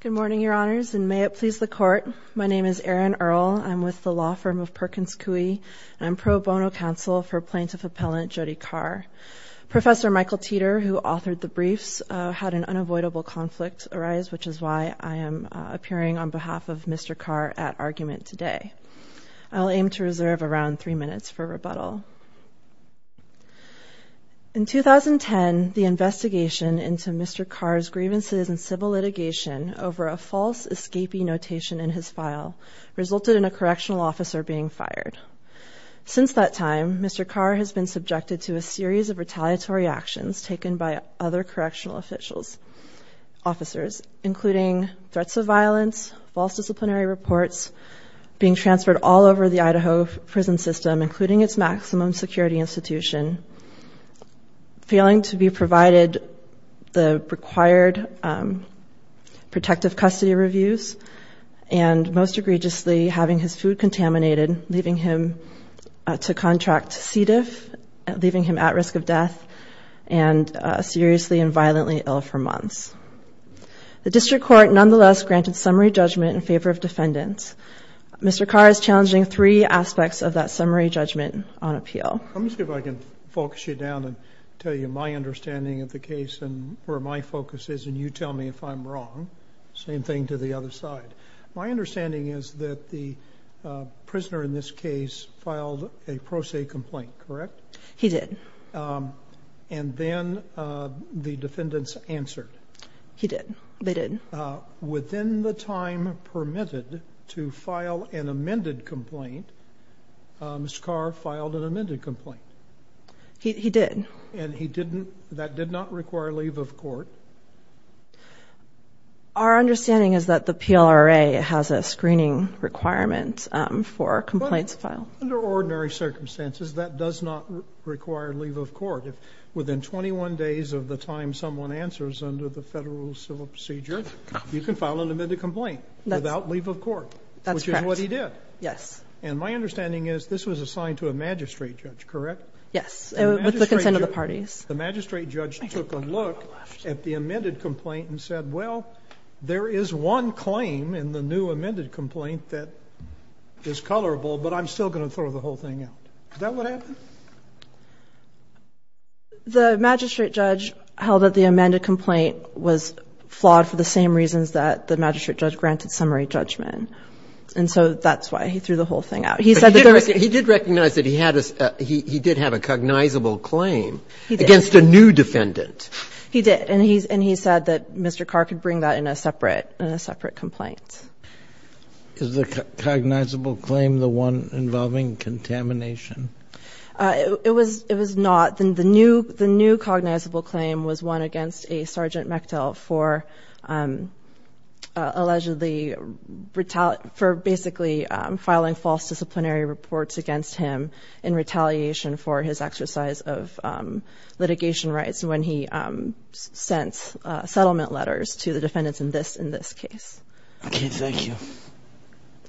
Good morning, Your Honors, and may it please the Court. My name is Erin Earle. I'm with the law firm of Perkins Coie, and I'm pro bono counsel for Plaintiff Appellant Jody Carr. Professor Michael Teeter, who authored the briefs, had an unavoidable conflict arise, which is why I am appearing on behalf of Mr. Carr at argument today. I'll aim to reserve around three minutes for rebuttal. In 2010, the investigation into Mr. Carr's grievances in civil litigation over a false escapee notation in his file resulted in a correctional officer being fired. Since that time, Mr. Carr has been subjected to a series of retaliatory actions taken by other correctional officials, officers, including threats of violence, false prison system, including its maximum security institution, failing to be provided the required protective custody reviews, and most egregiously, having his food contaminated, leaving him to contract C. diff, leaving him at risk of death, and seriously and violently ill for months. The district court nonetheless granted summary judgment in favor of defendants. Mr. That summary judgment on appeal. Let me see if I can focus you down and tell you my understanding of the case and where my focus is. And you tell me if I'm wrong. Same thing to the other side. My understanding is that the prisoner in this case filed a pro se complaint, correct? He did. And then the defendants answered. He did. They did. Within the time permitted to file an amended complaint, Mr. Carr filed an amended complaint. He did. And he didn't that did not require leave of court. Our understanding is that the PLRA has a screening requirement for complaints filed. Under ordinary circumstances, that does not require leave of court. Within 21 days of the time someone answers under the federal civil procedure, you can file an amended complaint without leave of court, which is what he did. Yes. And my understanding is this was assigned to a magistrate judge, correct? Yes. With the consent of the parties, the magistrate judge took a look at the amended complaint and said, well, there is one claim in the new amended complaint that is colorable, but I'm still going to throw the whole thing out. Is that what happened? The magistrate judge held that the amended complaint was colorable, but the magistrate judge granted summary judgment. And so that's why he threw the whole thing out. He said that there was He did recognize that he had a he did have a cognizable claim against a new defendant. He did. And he and he said that Mr. Carr could bring that in a separate in a separate complaint. Is the cognizable claim the one involving contamination? It was it was not the new the new cognizable claim was one against a sergeant for allegedly for basically filing false disciplinary reports against him in retaliation for his exercise of litigation rights when he sent settlement letters to the defendants in this in this case. I can't thank you.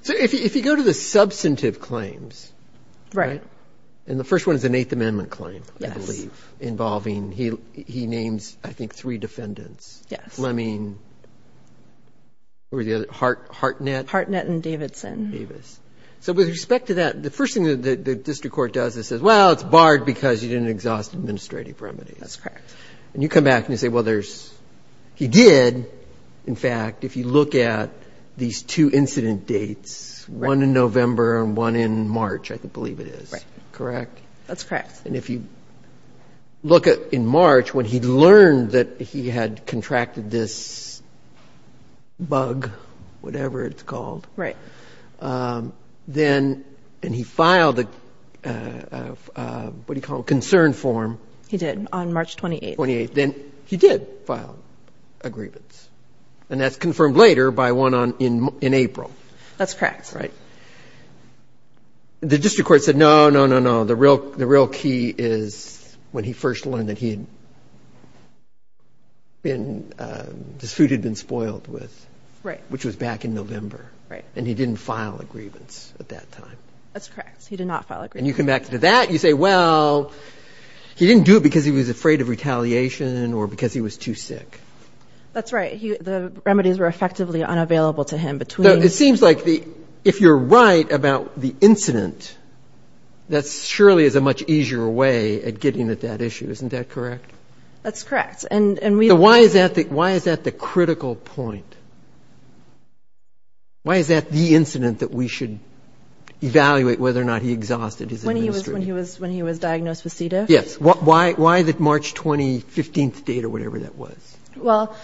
So if you go to the substantive claims. Right. And the first one is an Eighth Amendment claim, I believe, involving he he had like three defendants. Yes. I mean, where the other Hart Hartnett Hartnett and Davidson Davis. So with respect to that, the first thing that the district court does is says, well, it's barred because you didn't exhaust administrative remedies. That's correct. And you come back and you say, well, there's he did. In fact, if you look at these two incident dates, one in November and one in March, I believe it is correct. That's correct. And if you look at in March, when he learned that he had contracted this bug, whatever it's called. Right. Then and he filed the what do you call concern form? He did on March 28th. Then he did file agreements. And that's confirmed later by one on in April. That's correct. Right. The district court said, no, no, no, no. The real the real key is when he first learned that he had been disputed, been spoiled with. Right. Which was back in November. Right. And he didn't file agreements at that time. That's correct. He did not file it. And you come back to that. You say, well, he didn't do it because he was afraid of retaliation or because he was too sick. That's right. The remedies were effectively unavailable to him between. It seems like the if you're right about the incident, that surely is a much easier way at getting at that issue. Isn't that correct? That's correct. And why is that? Why is that the critical point? Why is that the incident that we should evaluate whether or not he exhausted when he was when he was when he was diagnosed with CEDA? Yes. Why? Why the March 20, 15th date or whatever that was? Well,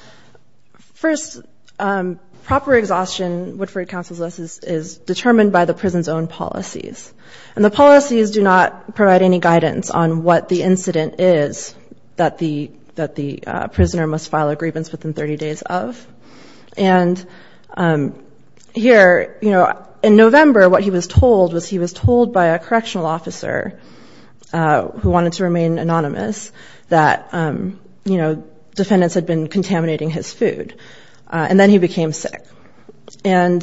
first, proper exhaustion. Woodford Council's is determined by the prison's own policies and the policies do not provide any guidance on what the incident is that the that the prisoner must file a grievance within 30 days of. And here, you know, in November, what he was told was he was told by a correctional officer who wanted to remain anonymous that, you know, defendants had been contaminating his food and then he became sick. And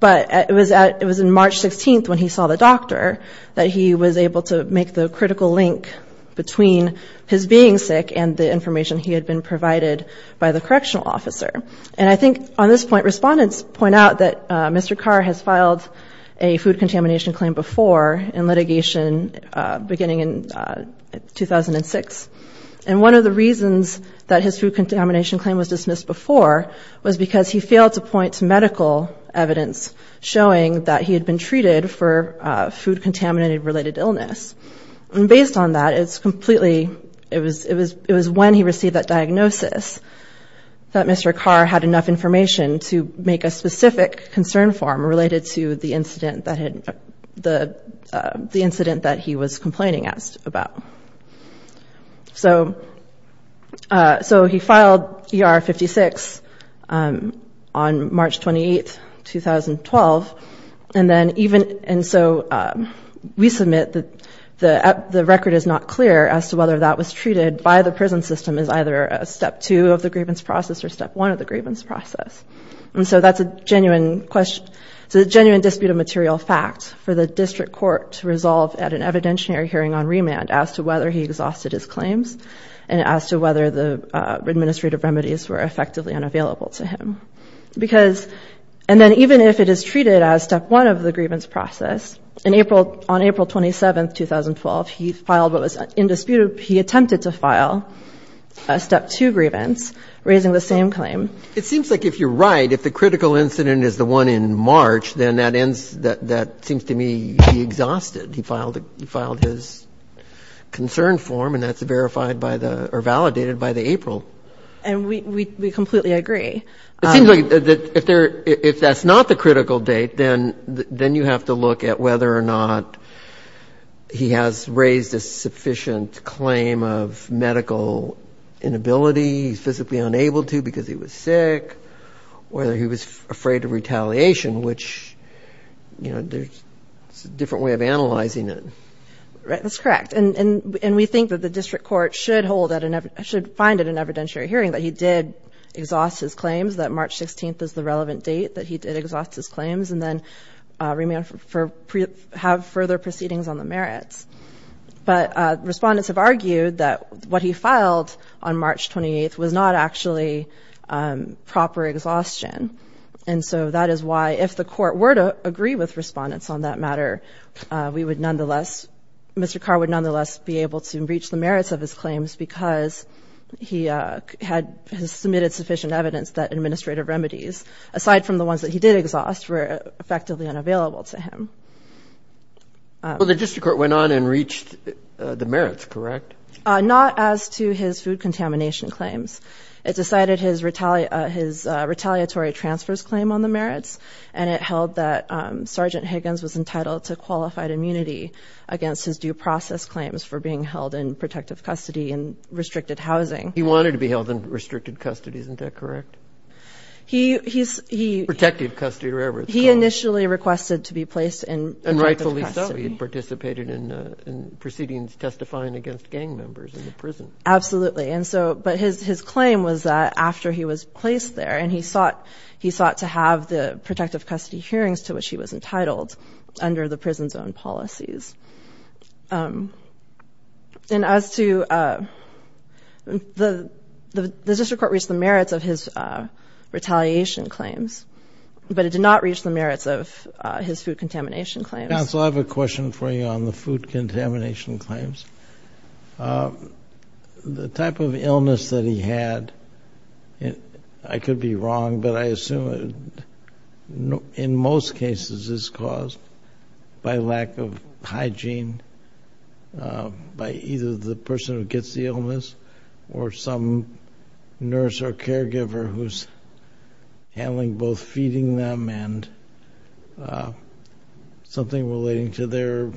but it was it was in March 16th when he saw the doctor that he was able to make the critical link between his being sick and the information he had been provided by the correctional officer. And I think on this point, respondents point out that Mr. Carr has filed a food contamination claim before in litigation beginning in 2006. And one of the reasons that his food contamination claim was dismissed before was because he failed to point to medical evidence showing that he had been treated for food contaminated related illness. And based on that, it's completely it was it was it was when he received that diagnosis that Mr. Carr had enough information to make a specific concern form related to the incident that had the the incident that he was complaining about. So so he filed E.R. 56 on March 28th, 2012. And then even and so we submit that the record is not clear as to whether that was treated by the prison system as either a step two of the grievance process or step one of the grievance process. And so that's a genuine question. So the genuine dispute of material facts for the district court to resolve at an evidentiary hearing on remand as to whether he exhausted his claims and as to whether the administrative remedies were effectively unavailable to him. Because and then even if it is treated as step one of the grievance process in April on April 27th, 2012, he filed what was indisputable. He attempted to file a step two grievance raising the same claim. It seems like if you're right, if the critical incident is the one in March, then that ends that that seems to me he exhausted. He filed he filed his concern form and that's verified by the or validated by the April. And we completely agree. It appears if that's not the critical date, then then you have to look at whether or not he has raised a sufficient claim of medical inability, physically unable to because he was sick, whether he was afraid of retaliation, which, you know, there's a different way of analyzing it. Right. That's correct. And we think that the district court should hold that and should find it an evidentiary hearing that he did exhaust his claims that March 16th is the relevant date that he did exhaust his claims and then remain for have further proceedings on the merits. But respondents have argued that what he filed on March 28th was not actually proper exhaustion. And so that is why if the court were to agree with respondents on that matter, we would nonetheless Mr. Carr would nonetheless be able to reach the merits of his claims because he had submitted sufficient evidence that administrative remedies aside from the ones that he did exhaust were effectively unavailable to him. Well, the district court went on and reached the merits. Correct. Not as to his food contamination claims. It decided his retaliate his retaliatory transfers claim on the merits. And it held that Sergeant Higgins was entitled to qualified immunity against his due process claims for being held in protective custody and restricted housing. He wanted to be held in restricted custody. Isn't that correct? He he's he protected custody wherever he initially requested to be placed in and rightfully so. He participated in proceedings testifying against gang members in the prison. Absolutely. And so but his his claim was that after he was placed there and he sought he sought to have the protective custody hearings to which he was entitled under the prison zone policies. And as to the the district court reached the merits of his retaliation claims, but it did not reach the merits of his food contamination claims. Counsel, I have a question for you on the food contamination claims. The type of illness that he had. I could be wrong, but I assume it in most cases is caused by lack of hygiene. By either the person who gets the illness or some nurse or caregiver who's handling both feeding them and something relating to their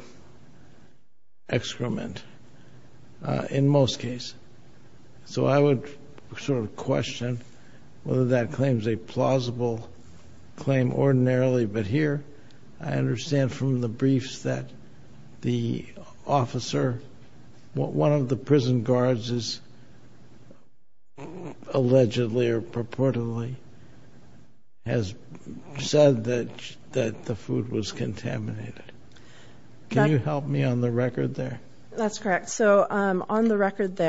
excrement in most cases. So I would sort of question whether that claims a plausible claim ordinarily. But here I understand from the briefs that the officer, one of the prison guards is allegedly or purportedly has said that that the food was contaminated. Can you help me on the record there? That's correct. So on the correctional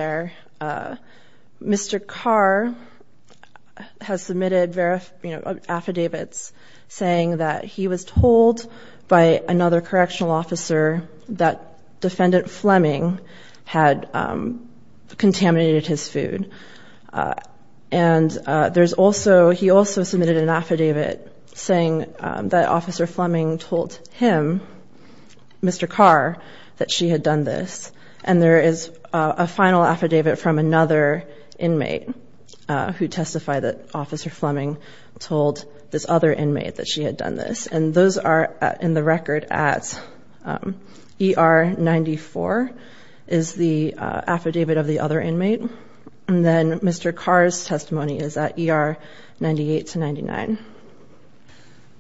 officer that defendant Fleming had contaminated his food. And there's also he also submitted an affidavit saying that officer Fleming told him, Mr. Carr, that she had done this. And there is a final affidavit from another inmate who testified that officer Fleming told this other ER 94 is the affidavit of the other inmate. And then Mr. Carr's testimony is at ER 98 to 99.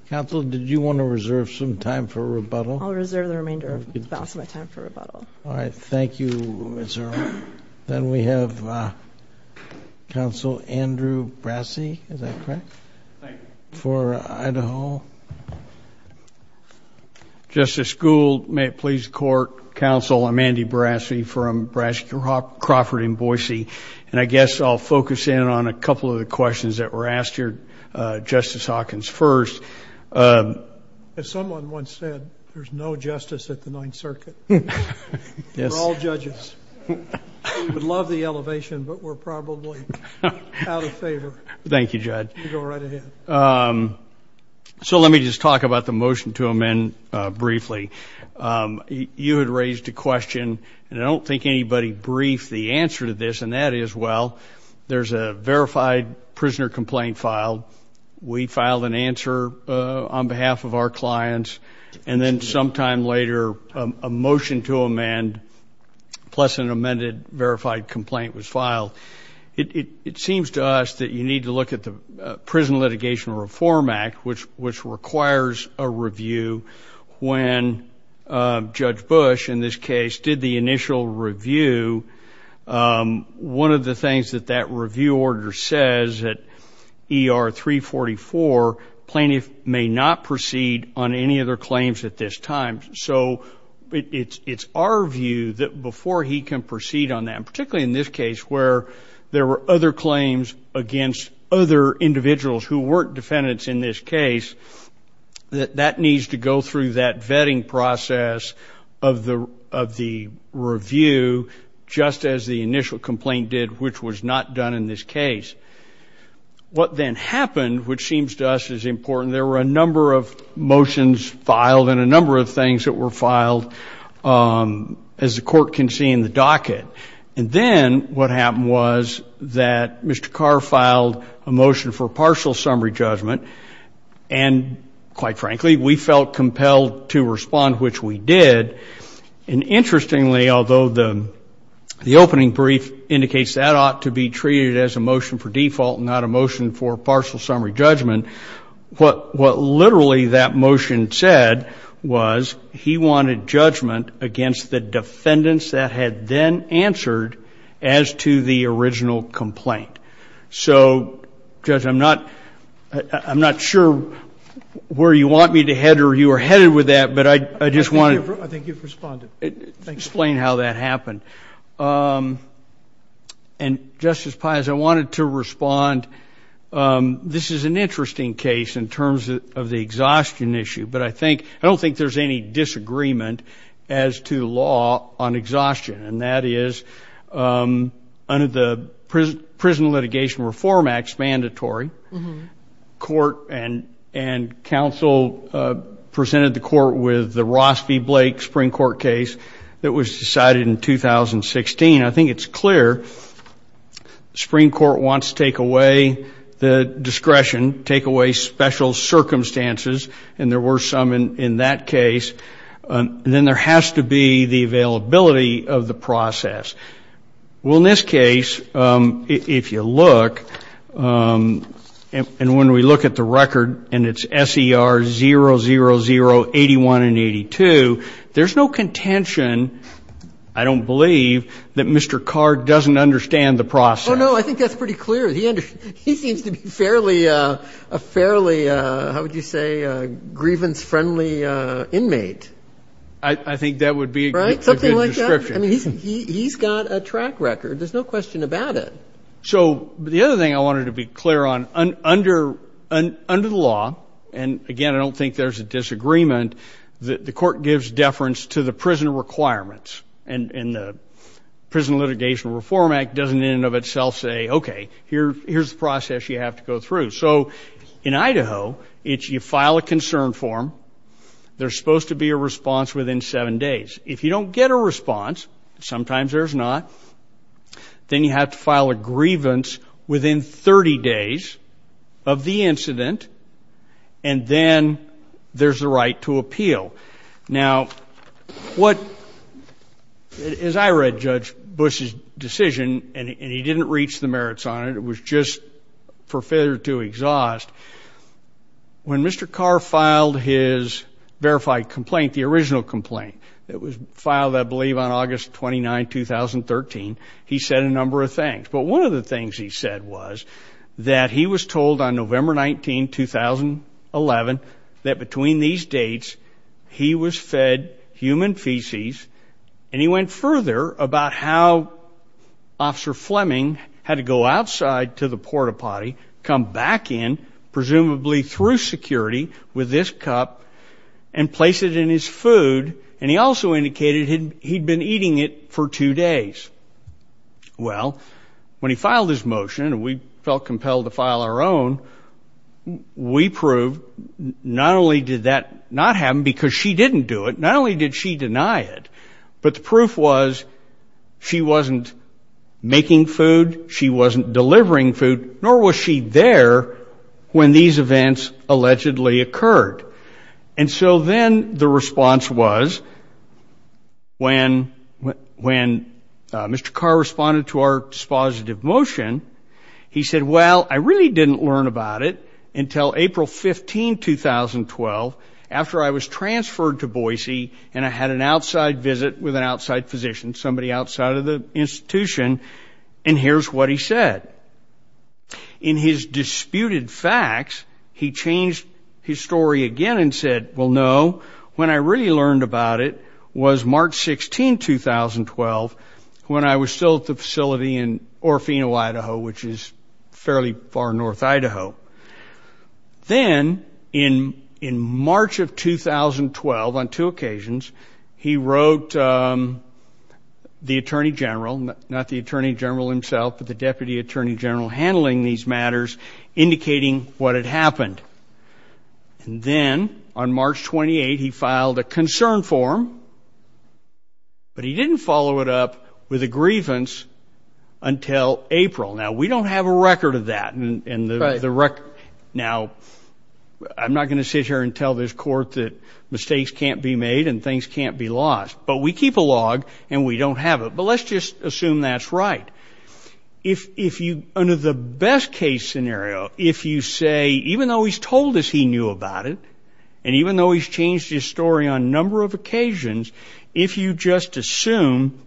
Counsel, did you want to reserve some time for rebuttal? I'll reserve the remainder of my time for rebuttal. All right. Thank you. Then we have counsel Andrew Brassie. Is that correct? Thank you. For Idaho. Justice Gould, may it please the court. Counsel, I'm Andy Brassie from Brassie, Crawford & Boise. And I guess I'll focus in on a couple of the questions that were asked here. Justice Hawkins first. As someone once said, there's no justice at the Ninth Circuit. We're all judges. We would love the elevation, but we're probably out of time. So let me just talk about the motion to amend briefly. You had raised a question, and I don't think anybody briefed the answer to this. And that is, well, there's a verified prisoner complaint filed. We filed an answer on behalf of our clients. And then sometime later, a motion to amend, plus an amended verified complaint was filed. It seems to us that you need to look at Prison Litigation Reform Act, which requires a review when Judge Bush, in this case, did the initial review. One of the things that that review order says that ER 344 plaintiff may not proceed on any other claims at this time. So it's our view that before he can proceed on that, particularly in this case where there were other claims against other individuals who weren't defendants in this case, that that needs to go through that vetting process of the review, just as the initial complaint did, which was not done in this case. What then happened, which seems to us is important, there were a number of motions filed and a number of things that were filed, as the what happened was that Mr. Carr filed a motion for partial summary judgment. And quite frankly, we felt compelled to respond, which we did. And interestingly, although the opening brief indicates that ought to be treated as a motion for default, not a motion for partial summary judgment, what as to the original complaint. So, Judge, I'm not, I'm not sure where you want me to head or you are headed with that. But I just want to explain how that happened. And Justice Pius, I wanted to respond. This is an interesting case in terms of the exhaustion issue. But I think I don't think there's any disagreement as to law on exhaustion. And that is under the Prison Litigation Reform Act's mandatory court and, and counsel presented the court with the Ross v. Blake Supreme Court case that was decided in 2016. I think it's clear Supreme Court wants to take away the discretion, take away special circumstances, and there were some in that case. Then there has to be the availability of the process. Well, in this case, if you look, and when we look at the record and it's SER 00081 and 82, there's no contention, I don't believe, that Mr. Carr doesn't understand the process. Oh, no, I think that's pretty clear. He seems to be a fairly, how would you say, grievance-friendly inmate. I think that would be a good description. He's got a track record. There's no question about it. So, the other thing I wanted to be clear on, under the law, and again, I don't think there's a disagreement, the court gives deference to the prison requirements. And the itself say, okay, here, here's the process you have to go through. So, in Idaho, it's, you file a concern form, there's supposed to be a response within seven days. If you don't get a response, sometimes there's not, then you have to file a grievance within 30 days of the incident, and then there's the right to appeal. Now, what, as I read Judge Bush's decision, and he didn't reach the merits on it, it was just for failure to exhaust, when Mr. Carr filed his verified complaint, the original complaint, that was filed, I believe, on August 29, 2013, he said a number of things. But one of the things he said was that he was told on November 19, 2011, that between these dates, he was fed human feces, and he went further about how Officer Fleming had to go outside to the porta potty, come back in, presumably through security, with this cup, and place it in his food, and he also indicated he'd been eating it for two days. Well, when he filed his motion, and we felt compelled to file our own, we proved, not only did that not happen, because she didn't do it, not only did she deny it, but the proof was, she wasn't making food, she wasn't delivering food, nor was she there when these events allegedly occurred. And so then, the response was, when Mr. Carr responded to our dispositive motion, he said, well, I really didn't learn about it until April 15, 2012, after I was transferred to Boise, and I had an outside visit with an outside physician, somebody outside of the institution, and here's what he said. In his disputed facts, he changed his story again and said, well, no, when I really learned about it was March 16, 2012, when I was still at the facility in Orofino, Idaho, which is fairly far north Idaho. Then, in March of 2012, on two occasions, the attorney general himself, the deputy attorney general, handling these matters, indicating what had happened. And then, on March 28, he filed a concern form, but he didn't follow it up with a grievance until April. Now, we don't have a record of that, and the record, now, I'm not going to sit here and tell this court that mistakes can't be made and things can't be lost, but we keep a record, and that's right. If you, under the best case scenario, if you say, even though he's told us he knew about it, and even though he's changed his story on a number of occasions, if you just assume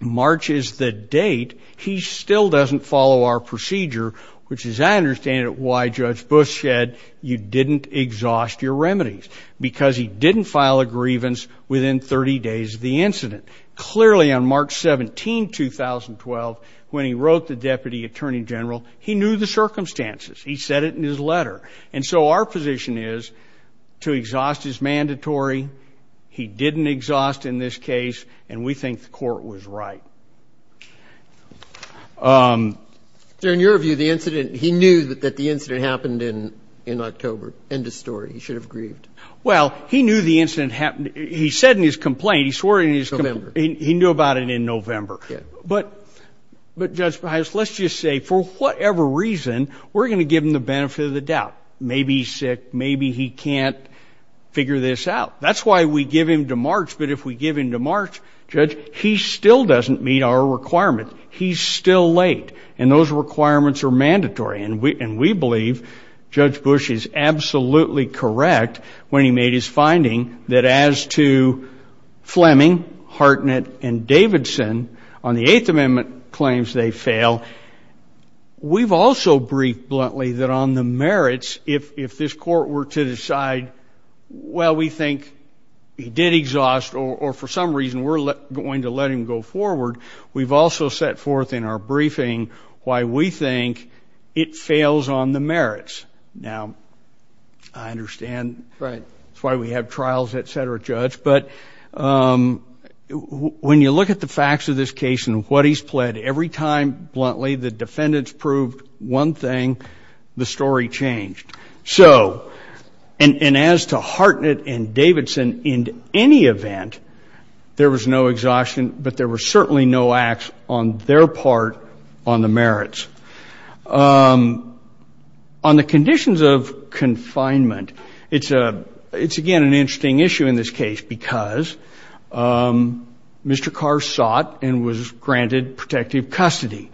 March is the date, he still doesn't follow our procedure, which, as I understand it, why Judge Bush said, you didn't exhaust your remedies, because he didn't file a grievance within 30 days of the incident. Clearly, on March 17, 2012, when he wrote the deputy attorney general, he knew the circumstances. He said it in his letter. And so, our position is, to exhaust is mandatory. He didn't exhaust in this case, and we think the court was right. So, in your view, the incident, he knew that the incident happened in October. End of story. He should have grieved. Well, he knew the incident happened, he said in his complaint, he swore in his complaint, he knew about it in November. But, Judge Beheis, let's just say, for whatever reason, we're going to give him the benefit of the doubt. Maybe he's sick, maybe he can't figure this out. That's why we give him to March, but if we give him to March, Judge, he still doesn't meet our requirements. He's still late, and those his finding, that as to Fleming, Hartnett, and Davidson, on the Eighth Amendment claims they fail, we've also briefed bluntly that on the merits, if this court were to decide, well, we think he did exhaust, or for some reason, we're going to let him go forward, we've also set forth in our briefing why we think it fails on the merits. Now, I understand. Right. That's why we have trials, etc., Judge, but when you look at the facts of this case and what he's pled, every time, bluntly, the defendants proved one thing, the story changed. So, and as to Hartnett and Davidson, in any event, there was no exhaustion, but there were certainly no acts on their part on the merits. On the conditions of confinement, it's again an interesting issue in this case because Mr. Carr sought and was granted protective custody,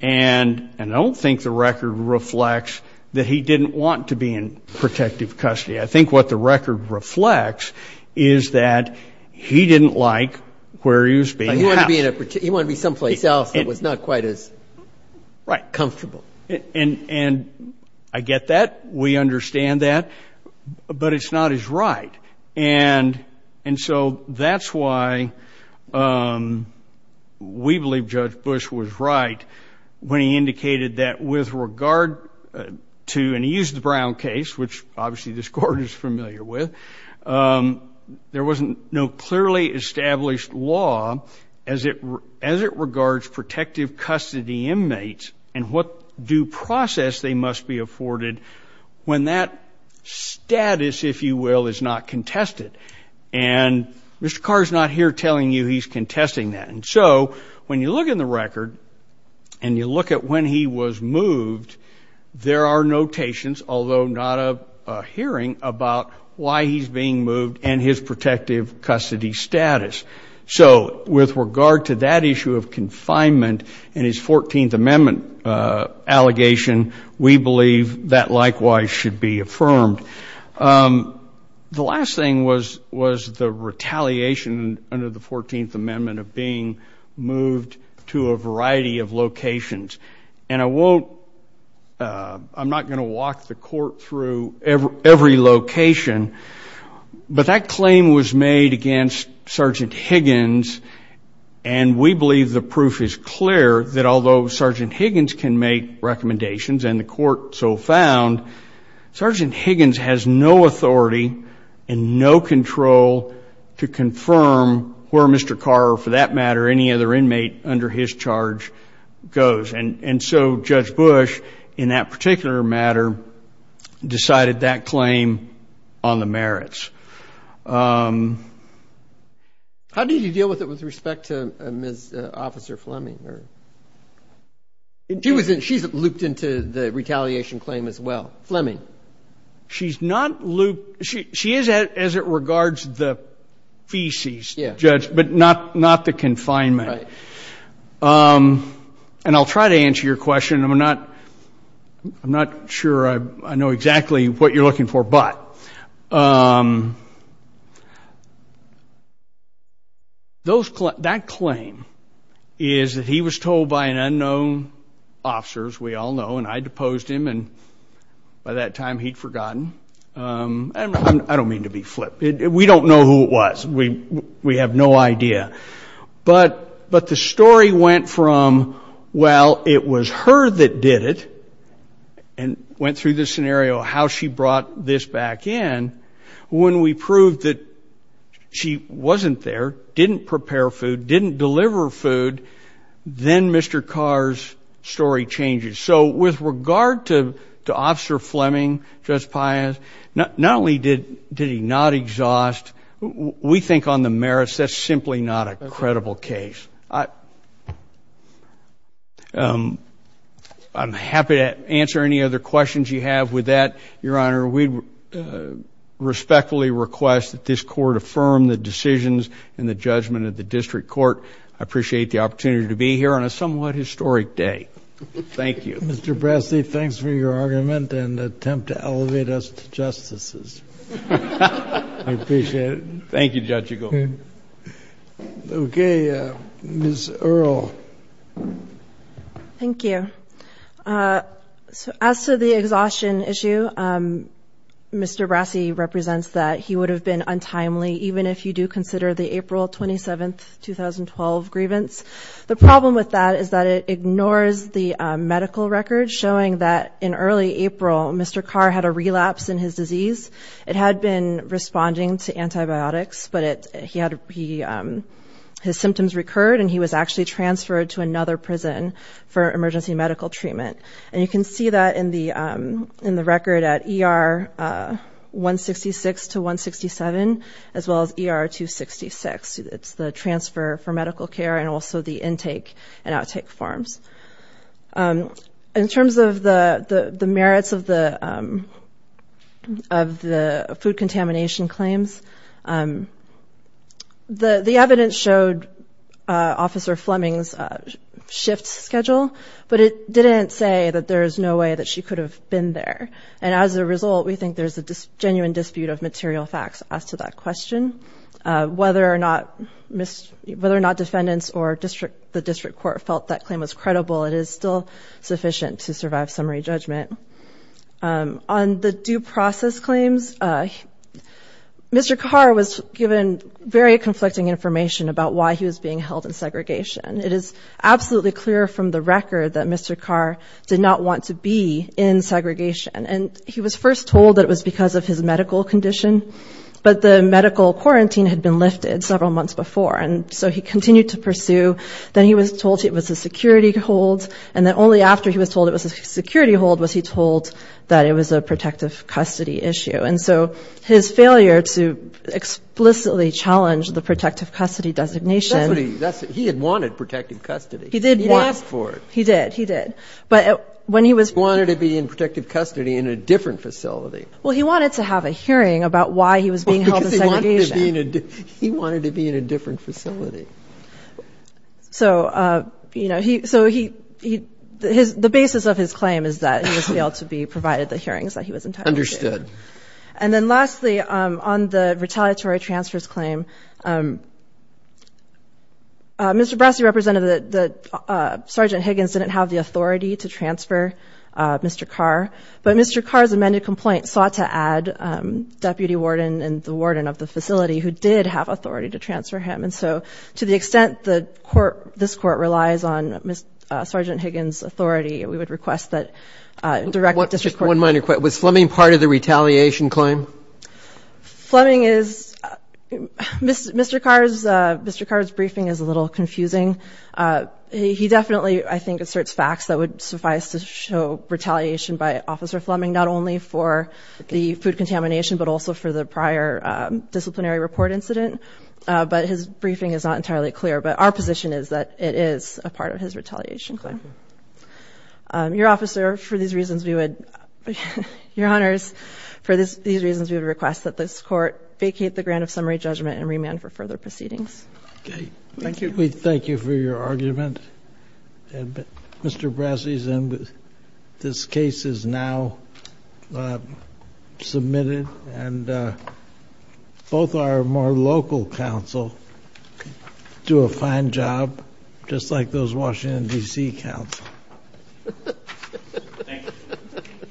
and I don't think the record reflects that he didn't want to be in protective custody. I think what the record reflects is that he didn't like where he was being housed. He wanted to be someplace else that was not quite as comfortable. Right. And I get that. We understand that. But it's not his right. And so that's why we believe Judge Bush was right when he indicated that with regard to, and he used the Brown case, which obviously this Court is familiar with, there wasn't no clearly established law as it regards protective custody inmates and what due process they must be afforded when that status, if you will, is not contested. And Mr. Carr is not here telling you he's contesting that. And so when you look in the record and you look at when he was moved, there are notations, although not a hearing, about why he's being moved and his protective custody status. So with regard to that issue of confinement and his 14th Amendment allegation, we believe that likewise should be affirmed. The last thing was the retaliation under the 14th Amendment of being moved to a variety of locations. And I won't, I'm not going to walk the Court through every location, but that claim was made against Sergeant Higgins, and we believe the proof is clear that although Sergeant Higgins can make recommendations and the Court so found, Sergeant Higgins has no authority and no control to confirm where Mr. Carr or for that matter any other inmate under his charge goes. And so Judge Bush in that particular matter decided that claim on the merits. How did you deal with it with respect to Ms. Officer Fleming? She's looped into the retaliation claim as well. Fleming? She's not looped. She is as it regards the feces, Judge, but not the confinement. Right. And I'll try to answer your question. I'm not sure I know exactly what you're looking for, but that claim is that he was told by an unknown officer, as we all know, and I deposed him and by that time he'd forgotten. I don't mean to be flip. We don't know who it was. We have no idea. But the story went from, well, it was her that did it and went through the scenario how she brought this back in. When we proved that she wasn't there, didn't prepare food, didn't deliver food, then Mr. Carr's story changes. So with regard to Officer Fleming, Judge Pius, not only did he not exhaust, we think on the merits that's simply not a credible case. I'm happy to answer any other questions you have with that. Your Honor, we respectfully request that this court affirm the decisions and the judgment of the district court. I appreciate the opportunity to be here on a somewhat historic day. Thank you. Mr. Brassi, thanks for your argument and attempt to elevate us to justices. I appreciate it. Thank you, Judge Eagle. Okay. Ms. Earle. Thank you. As to the exhaustion issue, Mr. Brassi represents that he would have been untimely, even if you do consider the April 27, 2012 grievance. The problem with that is that it ignores the medical record showing that in early April, Mr. Carr had a relapse in his disease. It had been responding to antibiotics, but his symptoms recurred, and he was actually transferred to another prison for emergency medical treatment. And you can see that in the record at ER 166 to 167, as well as ER 266. It's the transfer for medical care and also the intake and outtake forms. In terms of the merits of the food contamination claims, the evidence showed Officer Fleming's shift schedule, but it didn't say that there is no way that she could have been there. And as a result, we think there's a genuine dispute of material facts as to that question. Whether or not defendants or the district court felt that claim was credible, it is still sufficient to survive summary judgment. On the due process claims, Mr. Carr was given very conflicting information about why he was being held in segregation. It is absolutely clear from the record that Mr. Carr did not want to be in segregation, and he was first told that it was because of his medical condition, but the medical quarantine had been lifted several months before, and so he continued to pursue. Then he was told it was a security hold, and then only after he was told it was a security hold was he told that it was a protective custody issue. And so his failure to explicitly challenge the protective custody designation... He had wanted protective custody. He did. He asked for it. He did, he did. But when he was... He wanted to be in protective custody in a different facility. Well, he wanted to have a hearing about why he was being held in segregation. Because he wanted to be in a different facility. So, you know, the basis of his claim is that he was failed to be provided the hearings that he was entitled to. Understood. And then lastly, on the retaliatory transfers claim, Mr. Brassi represented that Sergeant Higgins didn't have the authority to transfer Mr. Carr, but Mr. Carr's amended complaint sought to add deputy warden and the warden of the facility who did have authority to transfer him. And so to the extent the court, this court, relies on Sergeant Higgins' authority, we would request that... One minor question. Was Fleming part of the retaliation claim? Fleming is... Mr. Carr's briefing is a little confusing. He definitely, I think, asserts facts that would suffice to show retaliation by Officer Fleming, not only for the food contamination, but also for the prior disciplinary report incident. But his briefing is not entirely clear. But our position is that it is a part of his retaliation claim. Your Honor, for these reasons, we would request that this court vacate the grant of summary judgment and remand for further proceedings. Okay. Thank you. We thank you for your argument. Mr. Brassi's case is now submitted, and both our more local counsel do a fine job, just like those Washington, D.C., counsel. Thank you.